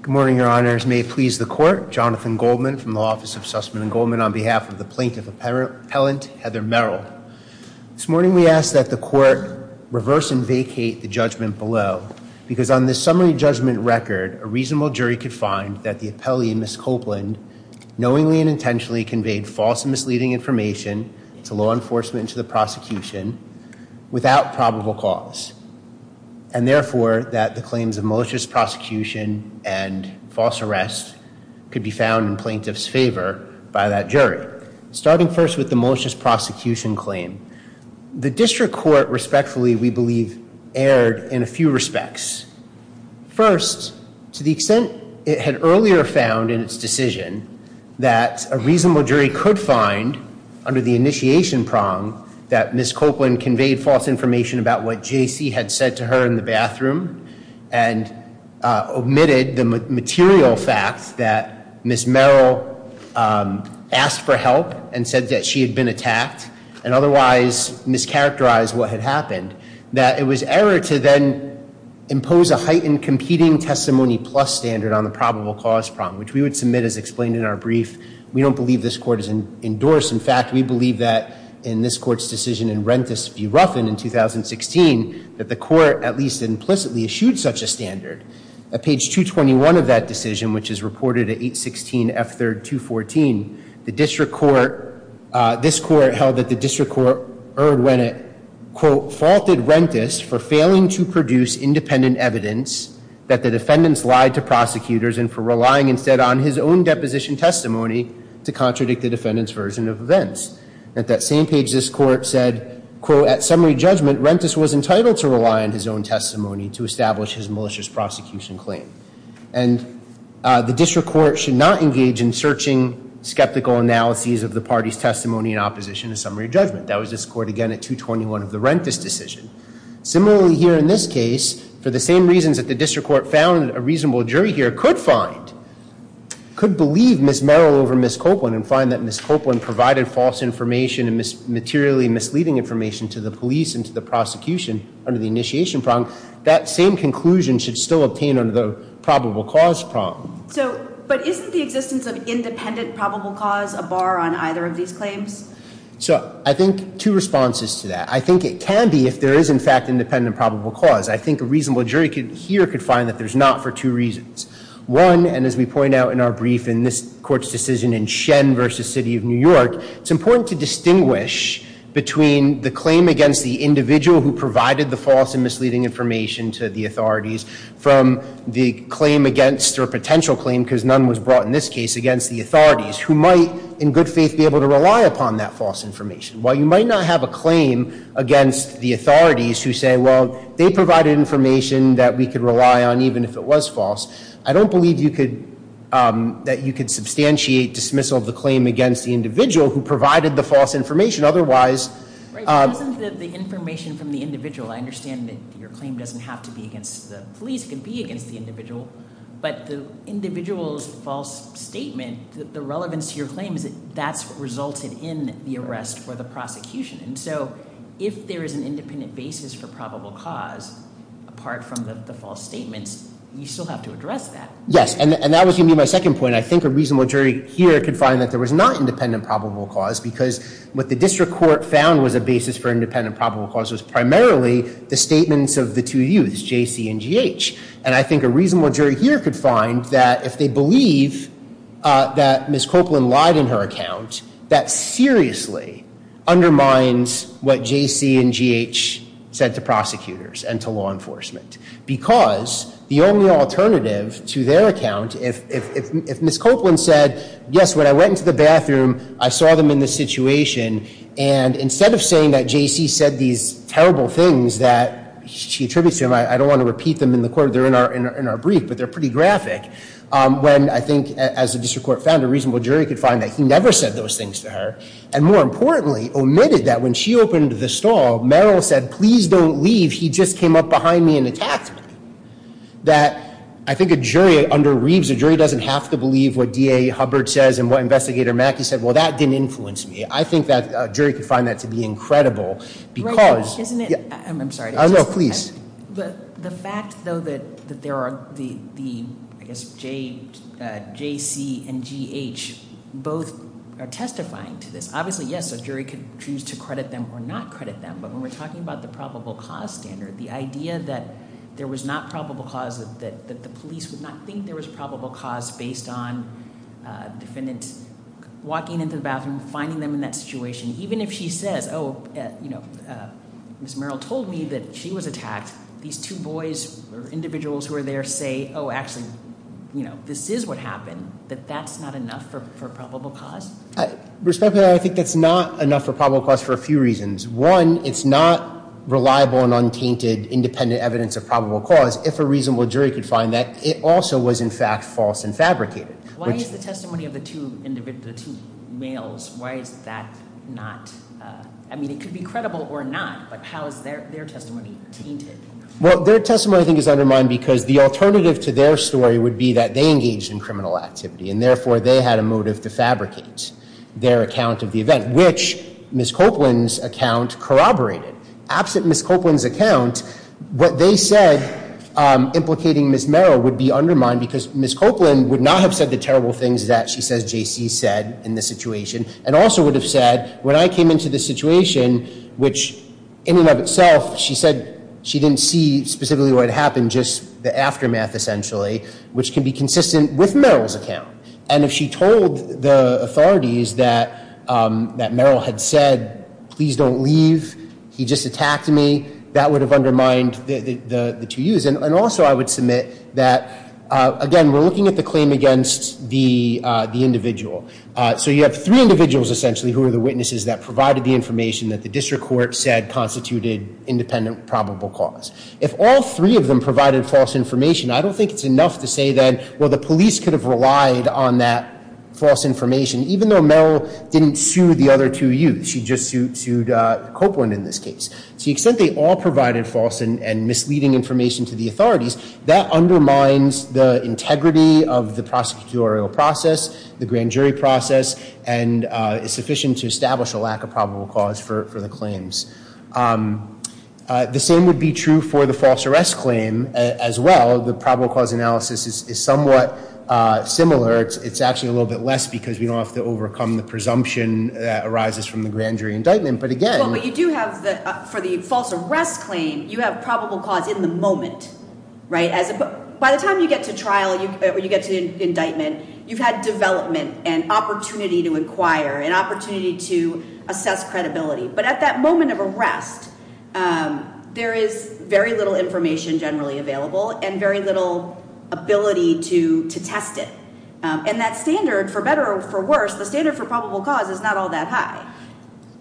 Good morning, your honors. May it please the court. Jonathan Goldman from the Office of the Attorney General's Office. I'm Jonathan Goldman, the attorney general of the New York Supreme Court, and I'm here to discuss the case of Mr. Merrill. This morning we asked that the court reverse and vacate the judgment below because on this summary judgment record, a reasonable jury could find that the appellee, Ms. Copeland, knowingly and intentionally conveyed false and misleading information to law enforcement and to the prosecution without probable cause. And therefore, that the claims of malicious prosecution and false arrests could be found in plaintiff's favor by that jury. Starting first with the malicious prosecution claim, the district court respectfully, we believe, erred in a few respects. First, to the extent it had earlier found in its decision that a reasonable jury could find under the initiation prong that Ms. Copeland conveyed false information about what J.C. had said to her in the bathroom and omitted the material facts that Ms. Merrill asked for help and said that she had been attacked and otherwise mischaracterized what had happened, that it was error to then impose a heightened competing testimony plus standard on the probable cause prong, which we would submit as explained in our brief. We don't believe this court has endorsed. In fact, we believe that in this court's decision in Rentis v. Ruffin in 2016, that the court at least implicitly eschewed such a standard. At page 221 of that decision, which is reported at 816 F. 3rd, 214, the district court, this court held that the district court erred when it quote, faulted Rentis for failing to produce independent evidence that the defendants lied to prosecutors and for relying instead on his own deposition testimony to contradict the defendants' version of events. At that same page, this court said, quote, at summary judgment, Rentis was entitled to rely on his own page in searching skeptical analyses of the party's testimony in opposition to summary judgment. That was this court again at 221 of the Rentis decision. Similarly here in this case, for the same reasons that the district court found a reasonable jury here could find, could believe Ms. Merrill over Ms. Copeland and find that Ms. Copeland provided false information and materially misleading information to the police and to the prosecution under the initiation prong, that same conclusion should still obtain under the probable cause prong. So, but isn't the existence of independent probable cause a bar on either of these claims? So, I think two responses to that. I think it can be if there is in fact independent probable cause. I think a reasonable jury here could find that there's not for two reasons. One, and as we point out in our brief in this court's decision in Shen versus City of New York, it's important to distinguish between the claim against the individual who provided the false and misleading information to the authorities from the claim against or potential claim, because none was brought in this case, against the authorities who might in good faith be able to rely upon that false information. While you might not have a claim against the authorities who say, well, they provided information that we could rely on even if it was the individual who provided the false information. Otherwise... Right, it wasn't the information from the individual. I understand that your claim doesn't have to be against the police. It could be against the individual. But the individual's false statement, the relevance to your claim is that that's resulted in the arrest for the prosecution. And so, if there is an independent basis for probable cause, apart from the false statements, you still have to address that. Yes, and that was going to be my second point. I think a reasonable jury here could find that there was not independent probable cause, because what the district court found was a basis for independent probable cause was primarily the statements of the two youths, J.C. and G.H. And I think a reasonable jury here could find that if they believe that Ms. Copeland lied in her account, that seriously undermines what J.C. and G.H. said to prosecutors and to law enforcement. Because the only alternative to their account, if Ms. Copeland said, yes, when I went into the bathroom I saw them in this situation, and instead of saying that J.C. said these terrible things that she attributes to him, I don't want to repeat them in the court, they're in our brief, but they're pretty graphic. When I think, as the district court found, a reasonable jury could find that he never said those things to her, and more importantly omitted that when she opened the stall, Merrill said, please don't leave, he just came up behind me and attacked me. That, I think a jury under Reeves, a jury doesn't have to believe what D.A. Hubbard says and what Investigator Mackey said, well that didn't influence me. I think that a jury could find that to be incredible. The fact, though, that there are J.C. and G.H. both are testifying to this, obviously yes, a jury could choose to credit them or not credit them, but when we're talking about the probable cause standard, the idea that there was not probable cause, that the police would not think there was probable cause based on the defendant walking into the bathroom, finding them in that situation, even if she says Ms. Merrill told me that she was attacked, these two boys or individuals who are there say this is what happened, that that's not enough for probable cause? Respectfully, I think that's not enough for probable cause for a few reasons. One, it's not reliable and untainted independent evidence of probable cause. If a reasonable jury could find that, it also was in fact false and fabricated. Why is the testimony of the two males, why is that not, I mean it could be credible or not, but how is their testimony tainted? Well, their testimony I think is undermined because the alternative to their story would be that they engaged in criminal activity and therefore they had a motive to fabricate their account of the event, which Ms. Copeland's account corroborated. Absent Ms. Copeland's account, what they said implicating Ms. Merrill would be undermined because Ms. Copeland would not have said the terrible things that she says J.C. said in this situation and also would have said when I came into this situation which in and of itself she said she didn't see specifically what happened, just the aftermath essentially, which can be consistent with Merrill's account. And if she told the authorities that Merrill had said, please don't leave, he just attacked me, that would have undermined the two youths. And also I would submit that, again, we're looking at the claim against the individual. So you have three individuals essentially who are the witnesses that provided the information that the district court said constituted independent probable cause. If all three of them provided false information, I don't think it's enough to say that, well, the police could have relied on that false information, even though Merrill didn't sue the other two youths. She just sued Copeland in this case. To the extent they all provided false and misleading information to the authorities, that undermines the integrity of the prosecutorial process, the grand jury process, and is sufficient to establish a lack of probable cause for the claims. The same would be true for the false arrest claim as well. The probable cause analysis is somewhat similar. It's actually a little bit less because we don't have to overcome the presumption that arises from the grand jury indictment. But again... But you do have, for the false arrest claim, you have probable cause in the moment. By the time you get to trial or you get to the indictment, you've had development and opportunity to inquire and opportunity to assess credibility. But at that moment of arrest, there is very little information generally available and very little ability to test it. And that standard, for better or for worse, the standard for probable cause is not all that high.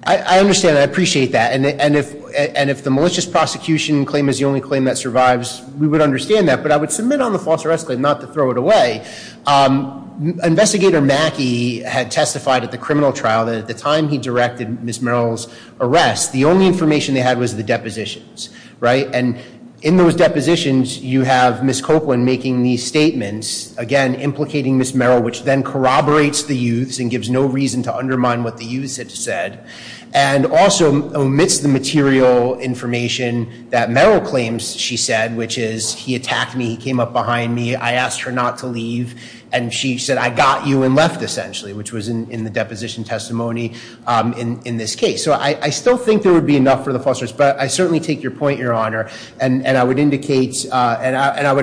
I understand that. I appreciate that. And if the malicious prosecution claim is the only claim that survives, we would understand that. But I would submit on the false arrest claim, not to throw it away. Investigator Mackey had testified at the criminal trial that at the time he directed Ms. Merrill's arrest, the only information they had was the depositions. And in those depositions, you have Ms. Copeland making these statements, again, implicating Ms. Merrill, which then corroborates the use and gives no reason to undermine what the use had said. And also omits the material information that Merrill claims she said, which is he attacked me, he came up behind me, I asked her not to leave. And she said, I got you and left, essentially. Which was in the deposition testimony in this case. So I still think there would be enough for the false arrest. But I certainly take your point, Your Honor. And I would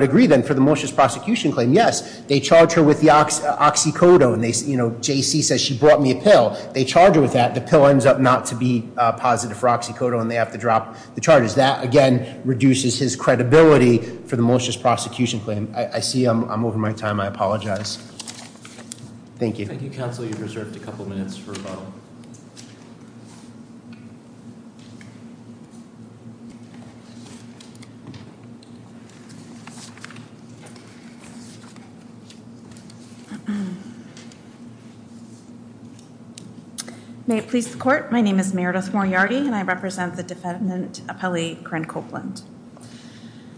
agree, then, for the malicious prosecution claim. Yes, they charge her with the oxycodone. J.C. says she brought me a pill. They charge her with that. The pill ends up not to be positive for oxycodone and they have to drop the charges. That, again, reduces his credibility for the malicious prosecution claim. I see I'm over my time. I apologize. Thank you. Thank you, Counsel. You've reserved a couple minutes for rebuttal. May it please the court. My name is Meredith Moriarty and I represent the defendant, Apelli Cren Copeland.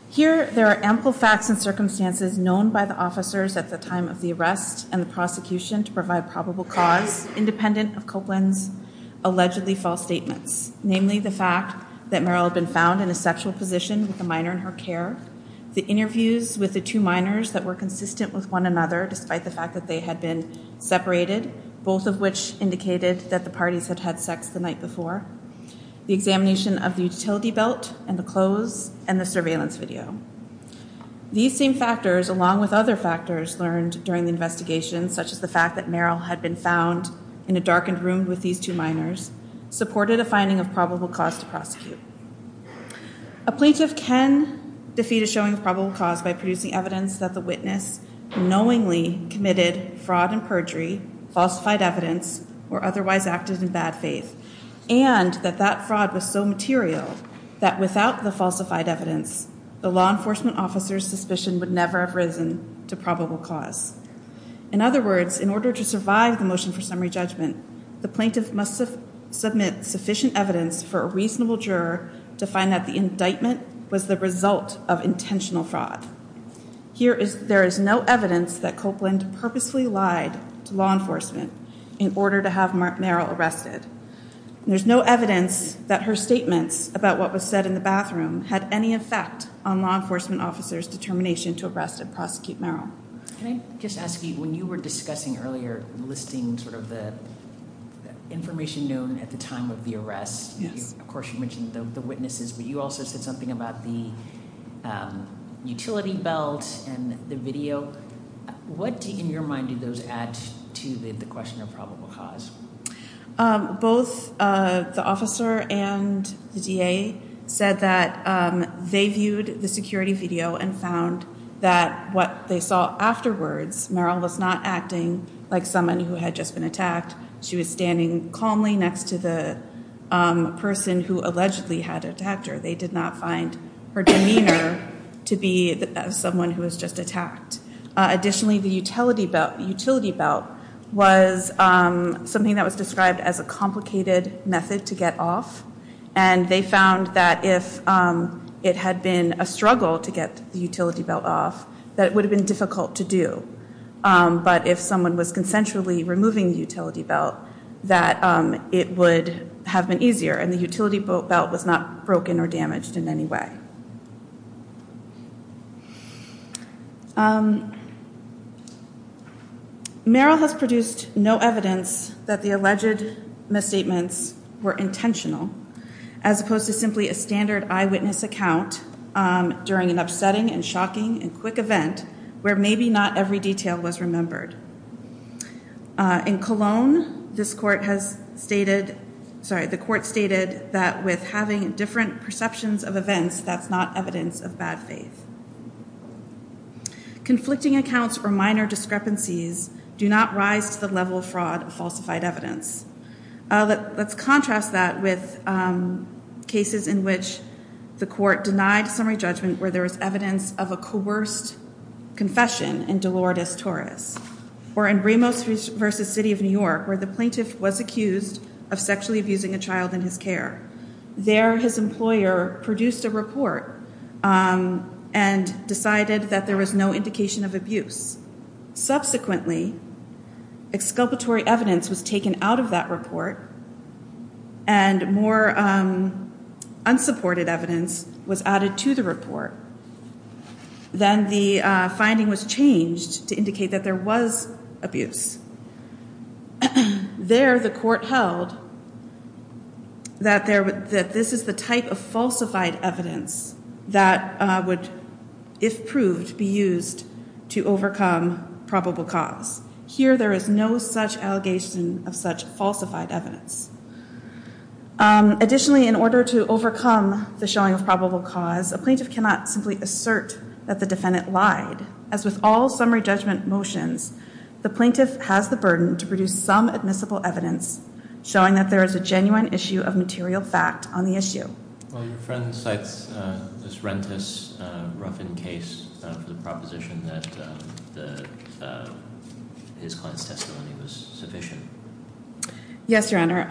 Here, there are ample facts and circumstances known by the officers at the time of the arrest and the prosecution to provide probable cause independent of Copeland's allegedly false statements. Namely, the fact that Merrill had been found in a sexual position with a minor in her care. The interviews with the two minors that were consistent with one another, despite the fact that they had been separated. Both of which indicated that the parties had had sex the night before. The examination of the utility belt and the clothes and the surveillance video. These same factors, along with other factors learned during the investigation, such as the fact that Merrill had been found in a darkened room with these two minors, supported a finding of probable cause to prosecute. A plaintiff can defeat a showing of probable cause by producing evidence that the witness knowingly committed fraud and perjury, falsified evidence, or otherwise acted in bad faith. And that that fraud was so material that without the falsified evidence, the law enforcement officer's suspicion would never have risen to probable cause. In other words, in order to survive the motion for summary judgment, the plaintiff must submit sufficient evidence for a reasonable juror to find that the indictment was the result of intentional fraud. There is no evidence that Copeland purposefully lied to law enforcement in order to have Merrill arrested. There's no evidence that her statements about what was said in the bathroom had any effect on law enforcement officers' determination to arrest and prosecute Merrill. Can I just ask you, when you were discussing earlier listing sort of the information known at the time of the arrest, of course you mentioned the witnesses, but you also said something about the utility belt and the video. What, in your mind, did those add to the question of probable cause? Both the officer and the DA said that they viewed the security video and found that what they saw afterwards, Merrill was not acting like someone who had just been attacked. She was standing calmly next to the person who allegedly had attacked her. They did not find her demeanor to be someone who was just attacked. Additionally, the utility belt was something that was described as a complicated method to get off and they found that if it had been a struggle to get the utility belt off, that it would have been difficult to do. But if someone was consensually removing the utility belt, that it would have been easier and the utility belt was not broken or damaged in any way. Merrill has produced no evidence that the alleged misstatements were intentional, as opposed to simply a standard eyewitness account during an upsetting and shocking and quick event where maybe not every detail was remembered. In Cologne, this court has stated, sorry, the court stated that with having different perceptions of events, that's not evidence of bad faith. Conflicting accounts or minor discrepancies do not rise to the level of fraud of falsified evidence. Let's contrast that with cases in which the court denied summary judgment where there was evidence of a coerced confession in Dolores Torres or in Ramos versus City of New York where the plaintiff was accused of sexually abusing a child in his care. There his employer produced a report and decided that there was no indication of abuse. Subsequently, exculpatory evidence was taken out of that report and more finding was changed to indicate that there was abuse. There the court held that this is the type of falsified evidence that would, if proved, be used to overcome probable cause. Here there is no such allegation of such falsified evidence. Additionally, in order to overcome the showing of probable cause, a plaintiff cannot simply assert that the defendant lied. As with all summary judgment motions, the plaintiff has the burden to produce some admissible evidence showing that there is a genuine issue of material fact on the issue. Your friend cites Ms. Rentis' Ruffin case for the proposition that his client's testimony was sufficient. Yes, Your Honor.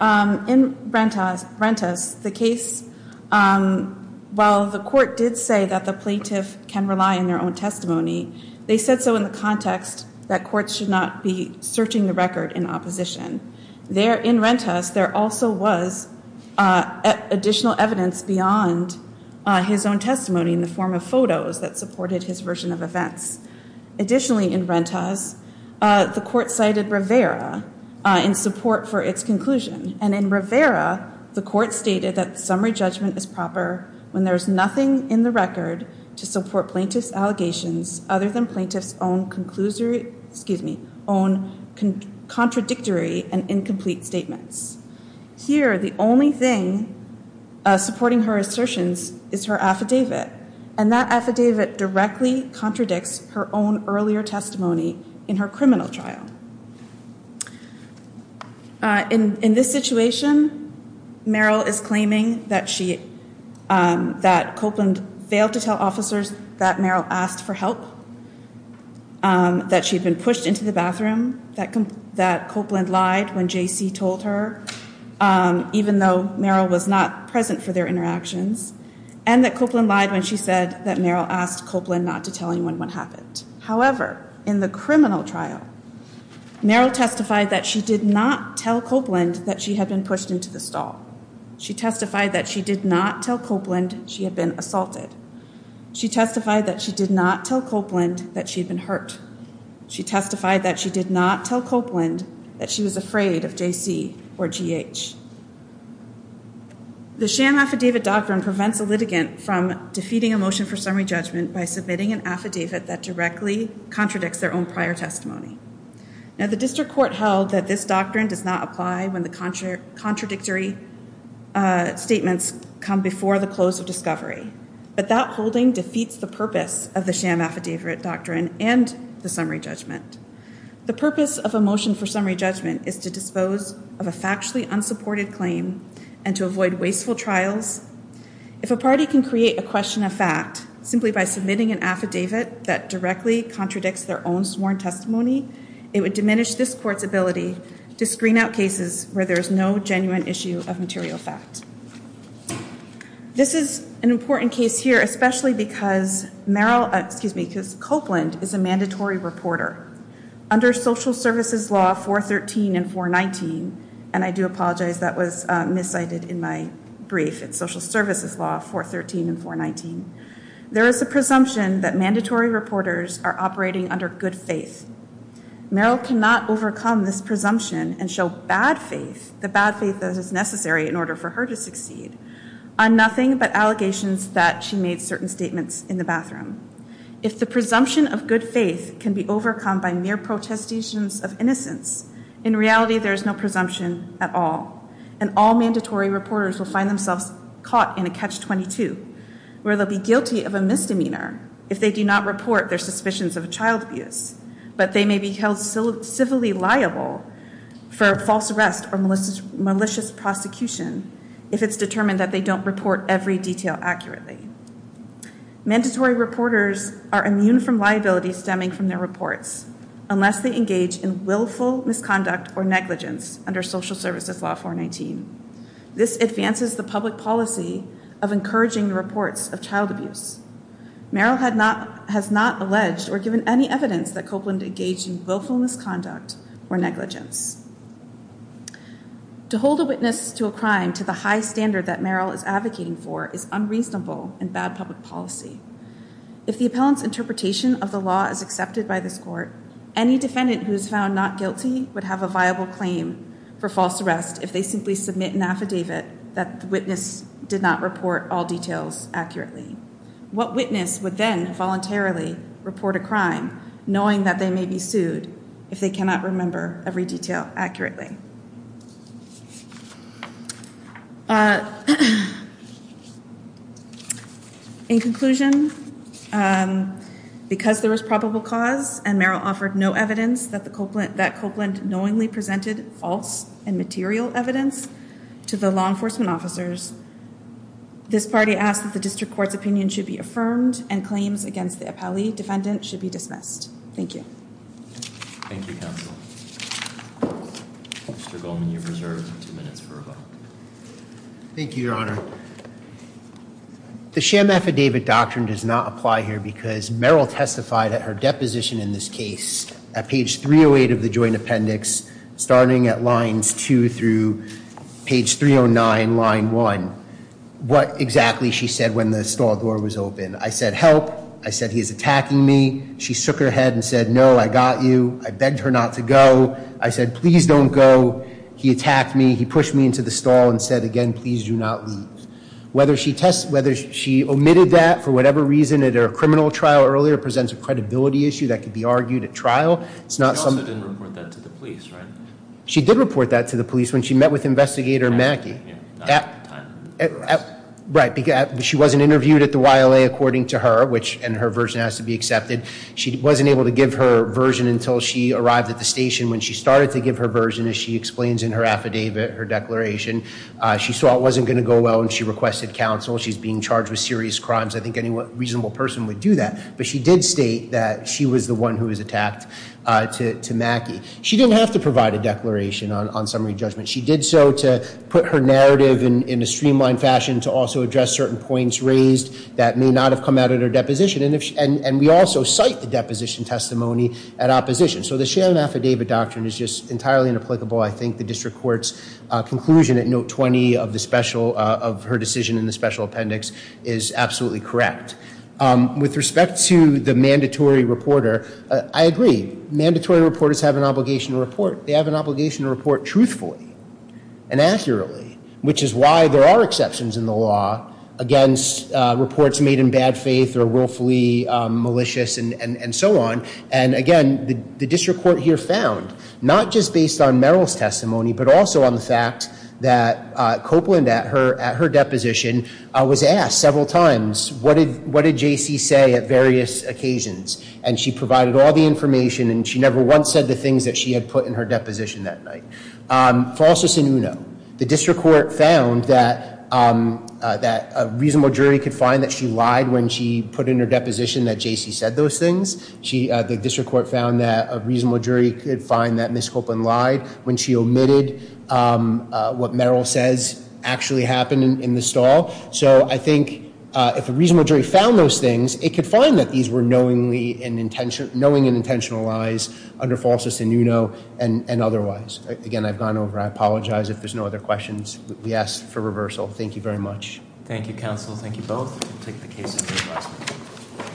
In Rentis' case, while the court did say that the plaintiff can rely on their own testimony, they said so in the context that courts should not be searching the record in opposition. There in Rentis' there also was additional evidence beyond his own testimony in the form of photos that supported his version of events. Additionally, in Rentis' the court cited Rivera in support for its conclusion. And in Rivera the court stated that summary judgment is proper when there is nothing in the record to support plaintiff's allegations other than plaintiff's own contradictory and incomplete statements. Here, the only thing supporting her assertions is her affidavit, and that affidavit directly contradicts her own earlier testimony in her criminal trial. In this situation, Merrill is claiming that she, that Copeland failed to tell officers that Merrill asked for help, that she had been pushed into the bathroom, that Copeland lied when J.C. told her, even though Merrill was not present for their interactions, and that Copeland lied when she said that Merrill asked Copeland not to tell anyone what happened. However, in the criminal trial, Merrill testified that she did not tell Copeland that she had been pushed into the stall. She testified that she did not tell Copeland she had been assaulted. She testified that she did not tell Copeland that she had been hurt. She testified that she did not tell Copeland that she was afraid of J.C. or G.H. The sham affidavit doctrine prevents a litigant from defeating a motion for summary judgment by submitting an affidavit that directly contradicts their own prior testimony. Now, the district court held that this doctrine does not apply when the holding defeats the purpose of the sham affidavit doctrine and the summary judgment. The purpose of a motion for summary judgment is to dispose of a factually unsupported claim and to avoid wasteful trials. If a party can create a question of fact simply by submitting an affidavit that directly contradicts their own sworn testimony, it would diminish this court's ability to screen out cases where there is no genuine issue of material fact. This is an important case here, especially because Merrill, excuse me, because Copeland is a mandatory reporter. Under social services law 413 and 419, and I do apologize, that was miscited in my brief. It's social services law 413 and 419. There is a presumption that mandatory reporters are operating under good faith. Merrill cannot overcome this presumption and show bad faith, the bad faith that is necessary in order for her to succeed, on nothing but allegations that she made certain statements in the bathroom. If the presumption of good faith can be overcome by mere protestations of innocence, in reality there is no presumption at all. And all mandatory reporters will find themselves caught in a but they may be held civilly liable for false arrest or malicious prosecution if it's determined that they don't report every detail accurately. Mandatory reporters are immune from liability stemming from their reports unless they engage in willful misconduct or negligence under social services law 419. This advances the public policy of encouraging reports of child abuse. Merrill has not alleged or given any evidence that Copeland engaged in willful misconduct or negligence. To hold a witness to a crime to the high standard that Merrill is advocating for is unreasonable and bad public policy. If the appellant's interpretation of the law is accepted by this court, any defendant who is found not guilty would have a viable claim for false arrest if they simply submit an affidavit that the witness did not report all details accurately. What witness would then voluntarily report a crime knowing that they may be sued if they cannot remember every detail accurately? In conclusion, because there was probable cause and Merrill offered no evidence that presented false and material evidence to the law enforcement officers, this party asked that the district court's opinion should be affirmed and claims against the appellee defendant should be dismissed. Thank you. Thank you, counsel. Mr. Goldman, you're reserved two minutes for a vote. Thank you, your honor. The sham affidavit doctrine does not apply here because Merrill testified at her deposition in this case at page 308 of the joint appendix, starting at lines 2 through page 309, line 1, what exactly she said when the stall door was open. I said, help. I said, he's attacking me. She shook her head and said, no, I got you. I begged her not to go. I said, please don't go. He attacked me. He pushed me into the stall and said, again, please do not leave. Whether she omitted that for whatever reason at her criminal trial earlier presents a credibility issue that could be argued at trial. She also didn't report that to the police, right? She did report that to the police when she met with Investigator Mackey. She wasn't interviewed at the YLA according to her, and her version has to be accepted. She wasn't able to give her version until she requested counsel. She's being charged with serious crimes. I think any reasonable person would do that. But she did state that she was the one who was attacked to Mackey. She didn't have to provide a declaration on summary judgment. She did so to put her narrative in a streamlined fashion, to also address certain points raised that may not have come out of her deposition. And we also cite the deposition testimony at opposition. So the sham affidavit doctrine is just entirely inapplicable. I think the district court's conclusion at note 20 of her decision in the special appendix is absolutely correct. With respect to the mandatory reporter, I agree. Mandatory reporters have an obligation to report. They have an obligation to report truthfully and accurately, which is why there are exceptions in the law against reports made in bad conduct. Not just based on Merrill's testimony, but also on the fact that Copeland at her deposition was asked several times, what did J.C. say at various occasions? And she provided all the information, and she never once said the things that she had put in her deposition that night. Falsus in uno. The district court found that a reasonable jury could find that she lied when she put in her deposition that J.C. said those things. The district court found that a reasonable jury could find that Ms. Copeland lied when she omitted what Merrill says actually happened in the stall. So I think if a reasonable jury found those things, it could find that these were knowingly and intentional lies under falsus in uno and otherwise. Again, I've gone over. I apologize if there's no other questions. We ask for reversal. Thank you very much.